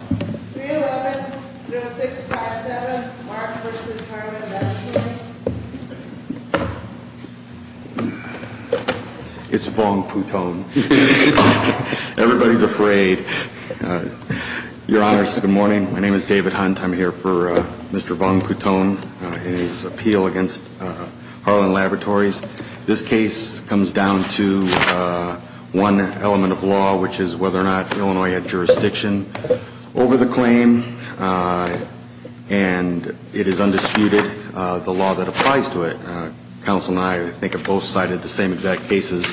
311-0657 Mark v. Harlan, that's you. It's Vongphouthone. Everybody's afraid. Your Honors, good morning. My name is David Hunt. I'm here for Mr. Vongphouthone and his appeal against Harlan Laboratories. This case comes down to one element of law, which is whether or not Illinois had jurisdiction over the claim. And it is undisputed the law that applies to it. Council and I, I think, have both cited the same exact cases.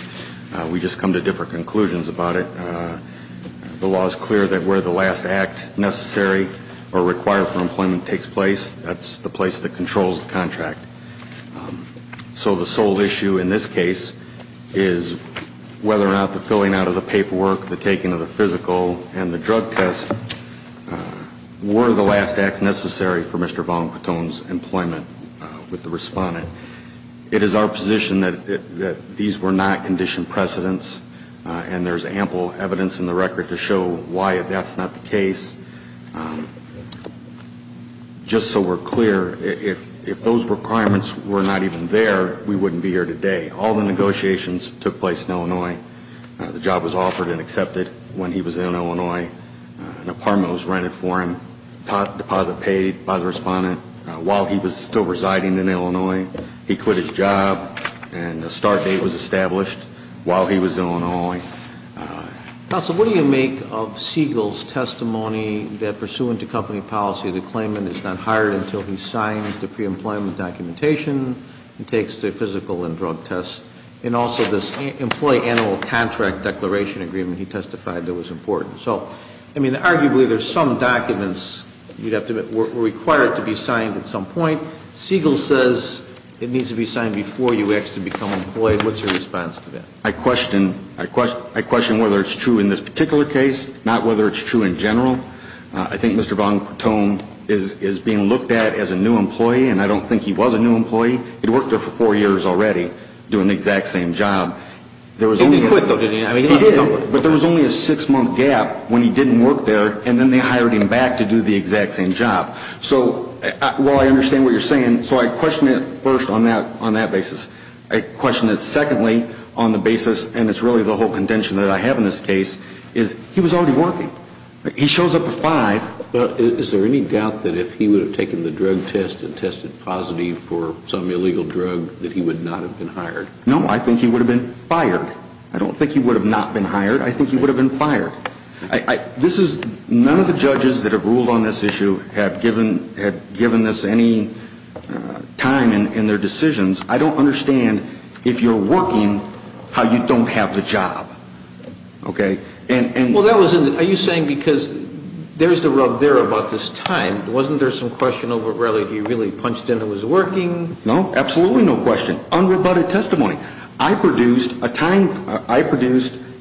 We just come to different conclusions about it. The law is clear that where the last act necessary or required for employment takes place, that's the place that controls the contract. So the sole issue in this case is whether or not the filling out of the paperwork, the taking of the physical, and the drug test were the last acts necessary for Mr. Vongphouthone's employment with the respondent. It is our position that these were not conditioned precedents, and there's ample evidence in the record to show why that's not the case. Just so we're clear, if those requirements were not even there, we wouldn't be here today. All the negotiations took place in Illinois. The job was offered and accepted when he was in Illinois. An apartment was rented for him, deposit paid by the respondent while he was still residing in Illinois. He quit his job, and a start date was established while he was in Illinois. Counsel, what do you make of Siegel's testimony that pursuant to company policy, the claimant is not hired until he signs the pre-employment documentation and takes the physical and drug test? And also this employee annual contract declaration agreement he testified that was important. So, I mean, arguably there's some documents you'd have to, were required to be signed at some point. Siegel says it needs to be signed before you ask to become employed. What's your response to that? I question whether it's true in this particular case, not whether it's true in general. I think Mr. Van Toten is being looked at as a new employee, and I don't think he was a new employee. He'd worked there for four years already doing the exact same job. He did quit, though, didn't he? He did, but there was only a six-month gap when he didn't work there, and then they hired him back to do the exact same job. So, while I understand what you're saying, so I question it first on that basis. I question it secondly on the basis, and it's really the whole contention that I have in this case, is he was already working. He shows up at 5. Is there any doubt that if he would have taken the drug test and tested positive for some illegal drug that he would not have been hired? No, I think he would have been fired. I don't think he would have not been hired. I think he would have been fired. This is, none of the judges that have ruled on this issue have given this any time in their decisions. I don't understand, if you're working, how you don't have the job, okay? Are you saying because there's the rub there about this time, wasn't there some question of whether he really punched in and was working? No, absolutely no question. Unrebutted testimony. I produced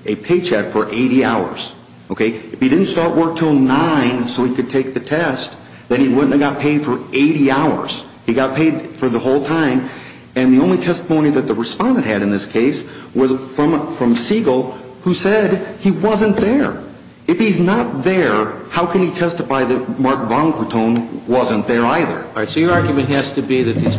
a paycheck for 80 hours, okay? If he didn't start work till 9 so he could take the test, then he wouldn't have got paid for 80 hours. He got paid for the whole time. And the only testimony that the respondent had in this case was from Siegel, who said he wasn't there. If he's not there, how can he testify that Mark Bonaparte wasn't there either? All right, so your argument has to be that these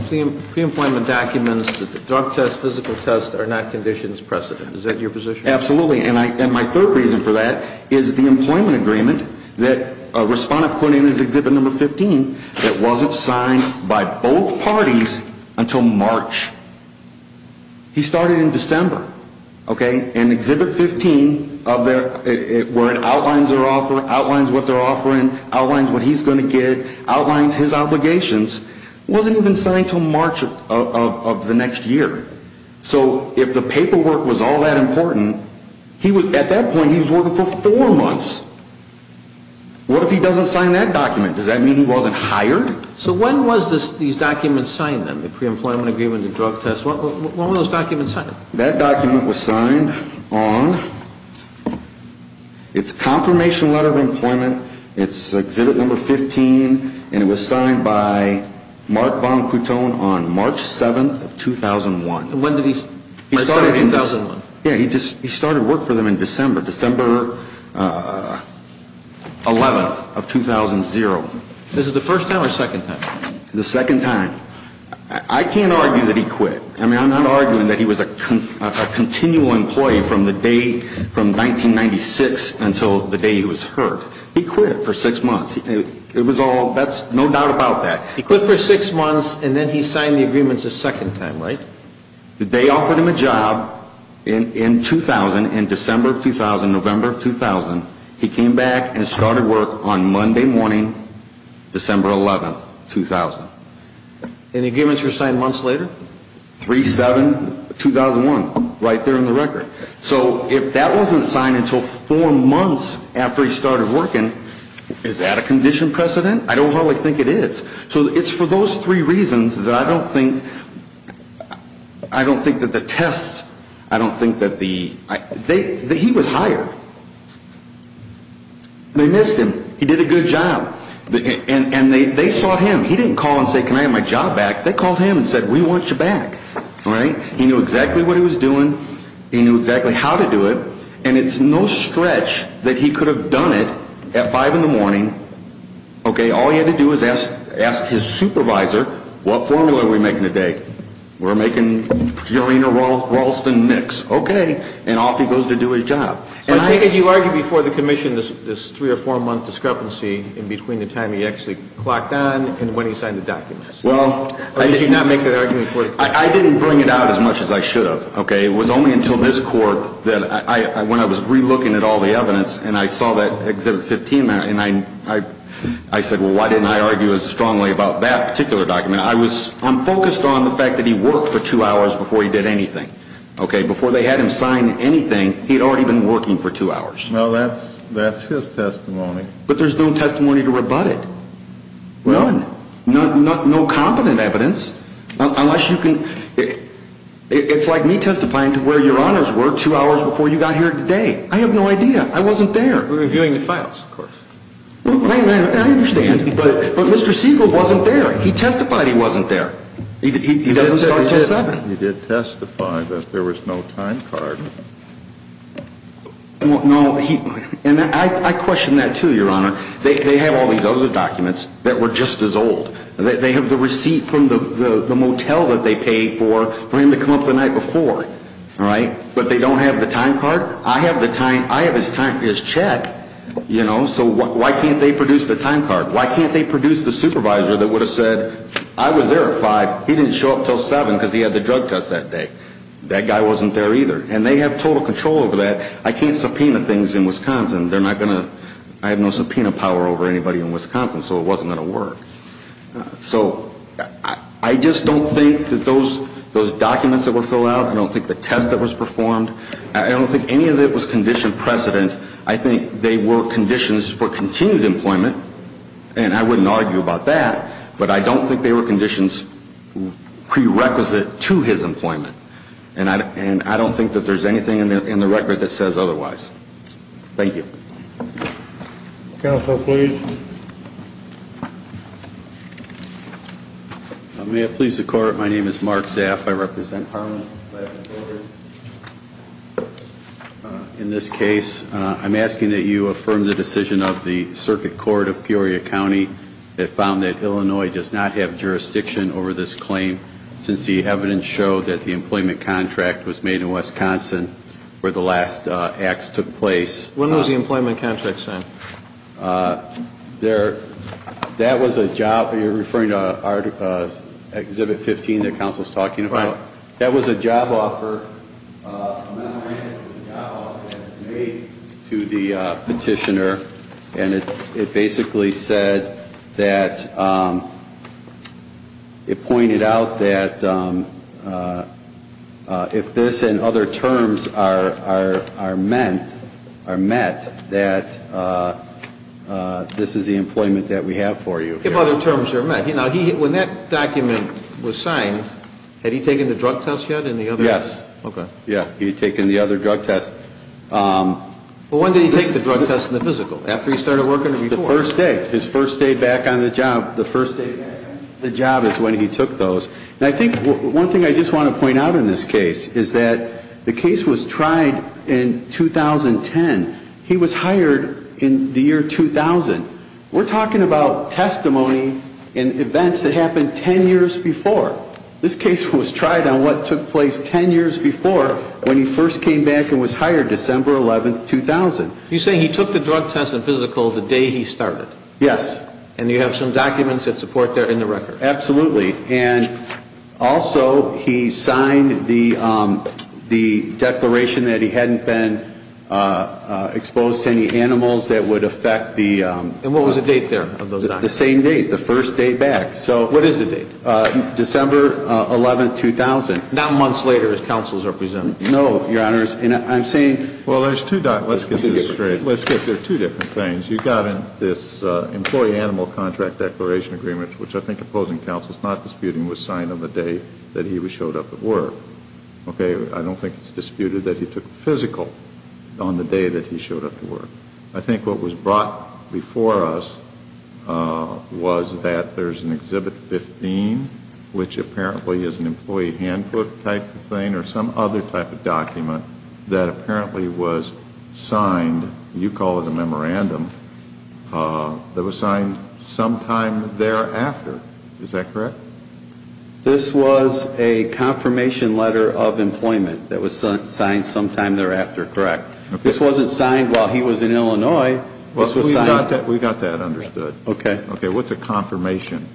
pre-employment documents, the drug test, physical test, are not conditions precedent. Is that your position? Absolutely. And my third reason for that is the employment agreement that a respondent put in as Exhibit 15 that wasn't signed by both parties until March. He started in December, okay? And Exhibit 15, where it outlines their offer, outlines what they're offering, outlines what he's going to get, outlines his obligations, wasn't even signed until March of the next year. So if the paperwork was all that important, at that point he was working for four months. What if he doesn't sign that document? Does that mean he wasn't hired? So when was these documents signed then, the pre-employment agreement, the drug test? When were those documents signed? That document was signed on its confirmation letter of employment. It's Exhibit 15, and it was signed by Mark Bonaparte on March 7th of 2001. When did he start in 2001? Yeah, he started work for them in December, December 11th of 2000. This is the first time or second time? The second time. I can't argue that he quit. I mean, I'm not arguing that he was a continual employee from the day, from 1996 until the day he was hurt. He quit for six months. It was all, that's, no doubt about that. He quit for six months, and then he signed the agreements a second time, right? They offered him a job in 2000, in December of 2000, November of 2000. He came back and started work on Monday morning, December 11th, 2000. Any agreements were signed months later? 3-7-2001, right there in the record. So if that wasn't signed until four months after he started working, is that a condition precedent? I don't hardly think it is. So it's for those three reasons that I don't think, I don't think that the test, I don't think that the, they, he was hired. They missed him. He did a good job. And they sought him. He didn't call and say, can I have my job back? They called him and said, we want you back. Right? He knew exactly what he was doing. He knew exactly how to do it. And it's no stretch that he could have done it at five in the morning. Okay, all he had to do was ask his supervisor, what formula are we making today? We're making Purina-Ralston mix. Okay. And off he goes to do his job. But take it you argued before the commission this three or four-month discrepancy in between the time he actually clocked on and when he signed the documents. Well, I didn't. Or did you not make that argument before the commission? I didn't bring it out as much as I should have, okay? It was only until this Court that I, when I was re-looking at all the evidence and I saw that Exhibit 15, and I said, well, why didn't I argue as strongly about that particular document? I was, I'm focused on the fact that he worked for two hours before he did anything, okay? Before they had him sign anything, he had already been working for two hours. Well, that's his testimony. But there's no testimony to rebut it. None. No competent evidence. Unless you can, it's like me testifying to where your honors were two hours before you got here today. I have no idea. I wasn't there. We're reviewing the files, of course. I understand. But Mr. Siegel wasn't there. He testified he wasn't there. He doesn't start till seven. He did testify that there was no time card. No, he, and I question that too, your honor. They have all these other documents that were just as old. They have the receipt from the motel that they paid for, for him to come up the night before, all right? But they don't have the time card? I have the time, I have his time, his check, you know, so why can't they produce the time card? Why can't they produce the supervisor that would have said, I was there at five, he didn't show up till seven because he had the drug test that day? That guy wasn't there either. And they have total control over that. I can't subpoena things in Wisconsin. They're not going to, I have no subpoena power over anybody in Wisconsin, so it wasn't going to work. So I just don't think that those documents that were filled out, I don't think the test that was performed, I don't think any of it was conditioned precedent. I think they were conditions for continued employment, and I wouldn't argue about that, but I don't think they were conditions prerequisite to his employment. And I don't think that there's anything in the record that says otherwise. Thank you. Counsel, please. May it please the Court, my name is Mark Zaff. I represent Parliament. In this case, I'm asking that you affirm the decision of the Circuit Court of Peoria County that found that Illinois does not have jurisdiction over this claim since the evidence showed that the employment contract was made in Wisconsin where the last acts took place. When was the employment contract signed? That was a job, you're referring to Exhibit 15 that counsel is talking about? Right. That was a job offer, a memorandum of job offer that was made to the petitioner, and it basically said that, it pointed out that if this and other terms are met, that this is the employment that we have for you. If other terms are met. When that document was signed, had he taken the drug test yet? Yes. Okay. Yeah, he had taken the other drug test. When did he take the drug test and the physical? After he started working or before? The first day. His first day back on the job. The first day back on the job is when he took those. And I think one thing I just want to point out in this case is that the case was tried in 2010. He was hired in the year 2000. We're talking about testimony and events that happened 10 years before. This case was tried on what took place 10 years before when he first came back and was hired, December 11, 2000. You're saying he took the drug test and physical the day he started? Yes. And you have some documents that support that in the record? Absolutely. And also he signed the declaration that he hadn't been exposed to any animals that would affect the... And what was the date there of those documents? The same date. The first day back. What is the date? December 11, 2000. Now months later his counsel is represented. No, Your Honors. And I'm saying... Well, there's two... Let's get this straight. Let's get there. Two different things. You've got this employee animal contract declaration agreement, which I think opposing counsel is not disputing, was signed on the day that he showed up at work. Okay? I don't think it's disputed that he took physical on the day that he showed up to work. I think what was brought before us was that there's an Exhibit 15, which apparently is an employee handbook type of thing or some other type of document that apparently was signed... that was signed sometime thereafter. Is that correct? This was a confirmation letter of employment that was signed sometime thereafter, correct? This wasn't signed while he was in Illinois. We've got that understood. Okay. What's a confirmation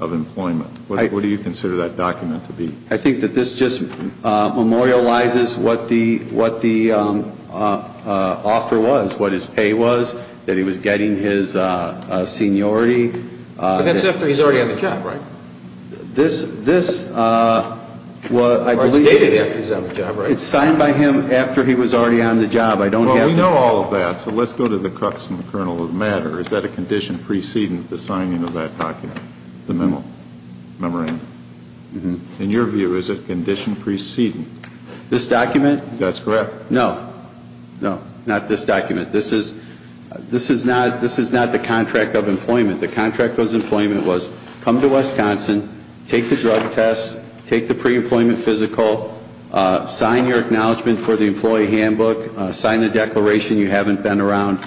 of employment? What do you consider that document to be? I think that this just memorializes what the offer was, what his pay was, that he was getting his seniority. But that's after he's already on the job, right? This was... Or it's dated after he's on the job, right? It's signed by him after he was already on the job. I don't have to... Well, we know all of that. So let's go to the crux and the kernel of the matter. Is that a condition preceding the signing of that document, the memo, the memorandum? In your view, is it condition preceding? This document? That's correct. No. No. Not this document. This is... This is not... This is not the contract of employment. The contract of employment was come to Wisconsin, take the drug test, take the pre-employment physical, sign your acknowledgment for the employee handbook, sign a declaration you haven't been around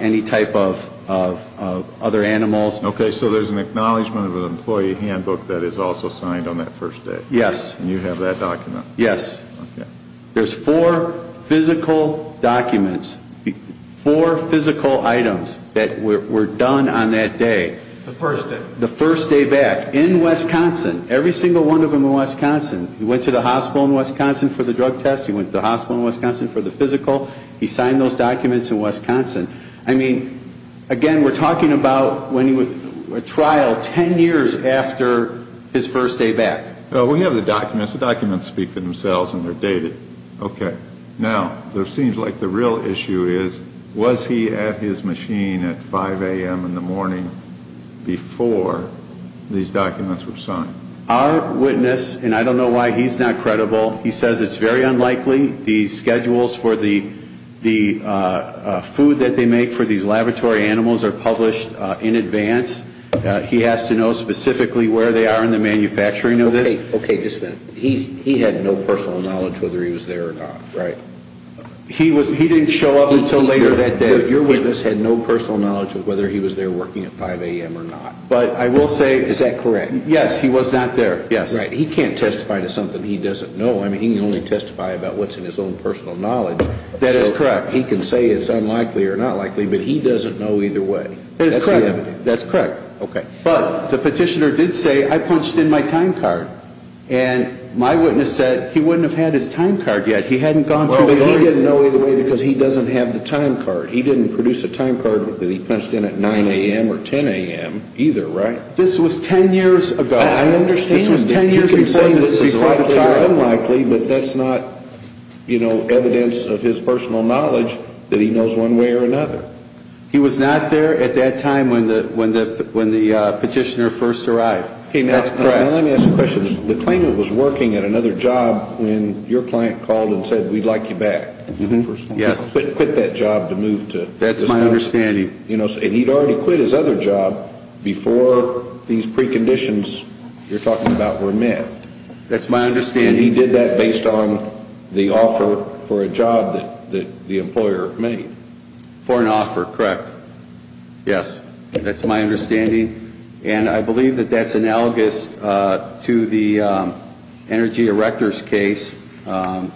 any type of other animals. Okay. So there's an acknowledgment of an employee handbook that is also signed on that first day. Yes. And you have that document. Yes. Okay. There's four physical documents, four physical items that were done on that day. The first day. The first day back in Wisconsin, every single one of them in Wisconsin. He went to the hospital in Wisconsin for the drug test. He went to the hospital in Wisconsin for the physical. He signed those documents in Wisconsin. I mean, again, we're talking about a trial ten years after his first day back. We have the documents. The documents speak for themselves and they're dated. Okay. Now, it seems like the real issue is, was he at his machine at 5 a.m. in the morning before these documents were signed? Our witness, and I don't know why he's not credible, he says it's very unlikely. The schedules for the food that they make for these laboratory animals are published in advance. He has to know specifically where they are in the manufacturing of this. Okay. Just a minute. He had no personal knowledge whether he was there or not. Right. He didn't show up until later that day. Your witness had no personal knowledge of whether he was there working at 5 a.m. or not. But I will say. Is that correct? Yes. He was not there. Yes. Right. He can't testify to something he doesn't know. I mean, he can only testify about what's in his own personal knowledge. That is correct. He can say it's unlikely or not likely, but he doesn't know either way. That's correct. That's the evidence. That's correct. Okay. But the petitioner did say, I punched in my time card. And my witness said he wouldn't have had his time card yet. He hadn't gone through the order. Well, but he didn't know either way because he doesn't have the time card. He didn't produce a time card that he punched in at 9 a.m. or 10 a.m. either, right? This was 10 years ago. I understand. You can say this is likely or unlikely, but that's not, you know, evidence of his personal knowledge that he knows one way or another. He was not there at that time when the petitioner first arrived. That's correct. Okay. Now, let me ask a question. The claimant was working at another job when your client called and said, we'd like you back. Yes. He quit that job to move to this one. That's my understanding. And he'd already quit his other job before these preconditions you're talking about were met. That's my understanding. He did that based on the offer for a job that the employer made. For an offer, correct. Yes. That's my understanding. And I believe that that's analogous to the energy erectors case. I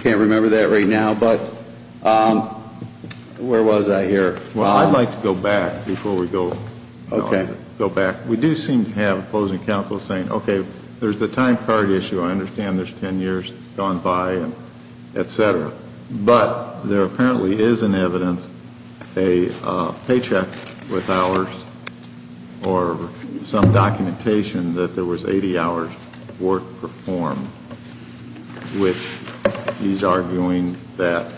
can't remember that right now, but where was I here? Well, I'd like to go back before we go back. We do seem to have opposing counsel saying, okay, there's the time card issue. I understand there's 10 years gone by, et cetera. But there apparently is in evidence a paycheck with hours or some documentation that there was 80 hours worth performed, which he's arguing that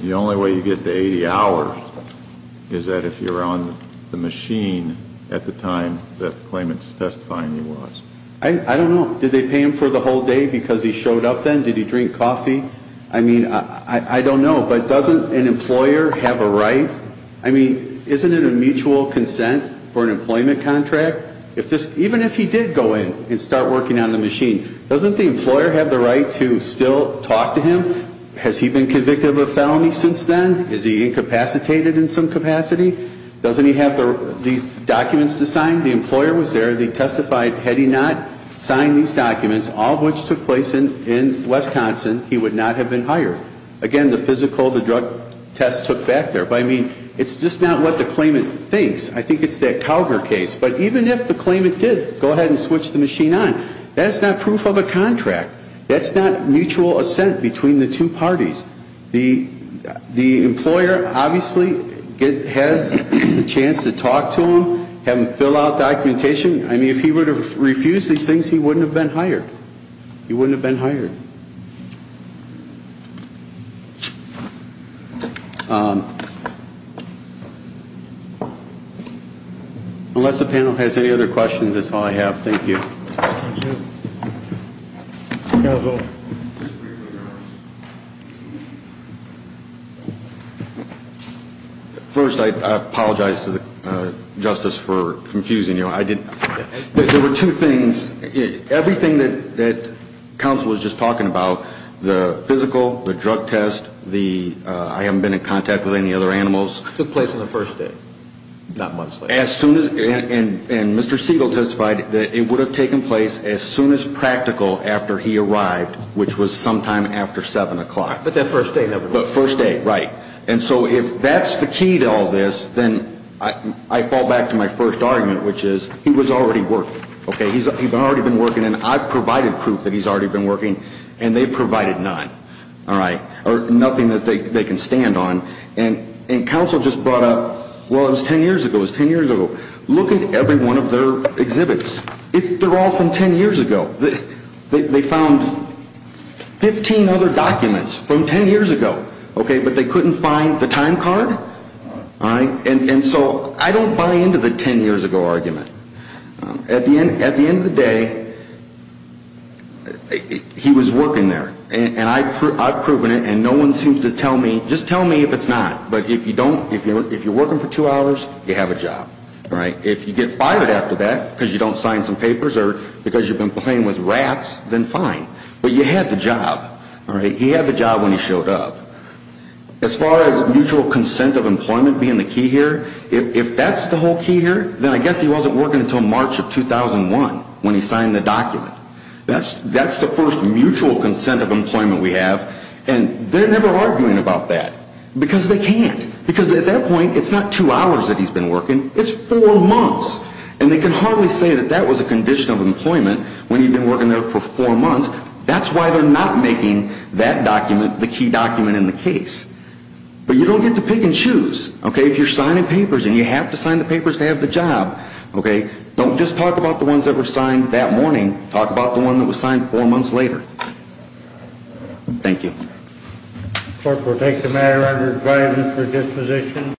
the only way you get to 80 hours is that if you're on the machine at the time that the claimant's testifying you was. I don't know. Did they pay him for the whole day because he showed up then? Did he drink coffee? I mean, I don't know, but doesn't an employer have a right? I mean, isn't it a mutual consent for an employment contract? Even if he did go in and start working on the machine, doesn't the employer have the right to still talk to him? Has he been convicted of a felony since then? Is he incapacitated in some capacity? Doesn't he have these documents to sign? The employer was there. He testified. Had he not signed these documents, all of which took place in Wisconsin, he would not have been hired. Again, the physical, the drug test took back there. But, I mean, it's just not what the claimant thinks. I think it's that Cougar case. But even if the claimant did go ahead and switch the machine on, that's not proof of a contract. That's not mutual assent between the two parties. The employer obviously has the chance to talk to him, have him fill out documentation. I mean, if he were to refuse these things, he wouldn't have been hired. He wouldn't have been hired. Unless the panel has any other questions, that's all I have. Thank you. First, I apologize to the Justice for confusing you. There were two things. Everything that counsel was just talking about, the physical, the drug test, the I haven't been in contact with any other animals. It took place on the first day, not months later. And Mr. Siegel testified that it would have taken place as soon as practical after he arrived, which was sometime after 7 o'clock. The first day, right. And so if that's the key to all this, then I fall back to my first argument, which is he was already working. He's already been working. And I've provided proof that he's already been working. And they provided none. All right. Or nothing that they can stand on. And counsel just brought up, well, it was 10 years ago. It was 10 years ago. Look at every one of their exhibits. They're all from 10 years ago. They found 15 other documents from 10 years ago. Okay. But they couldn't find the time card. All right. And so I don't buy into the 10 years ago argument. At the end of the day, he was working there. And I've proven it. And no one seems to tell me, just tell me if it's not. But if you don't, if you're working for two hours, you have a job. All right. If you get fired after that because you don't sign some papers or because you've been playing with rats, then fine. But you had the job. All right. He had the job when he showed up. As far as mutual consent of employment being the key here, if that's the whole key here, then I guess he wasn't working until March of 2001 when he signed the document. That's the first mutual consent of employment we have. And they're never arguing about that because they can't. Because at that point, it's not two hours that he's been working. It's four months. And they can hardly say that that was a condition of employment when he'd been working there for four months. That's why they're not making that document the key document in the case. But you don't get to pick and choose. Okay. If you're signing papers and you have to sign the papers to have the job, okay, don't just talk about the ones that were signed that morning. Talk about the one that was signed four months later. Thank you. The court will take the matter under review for disposition.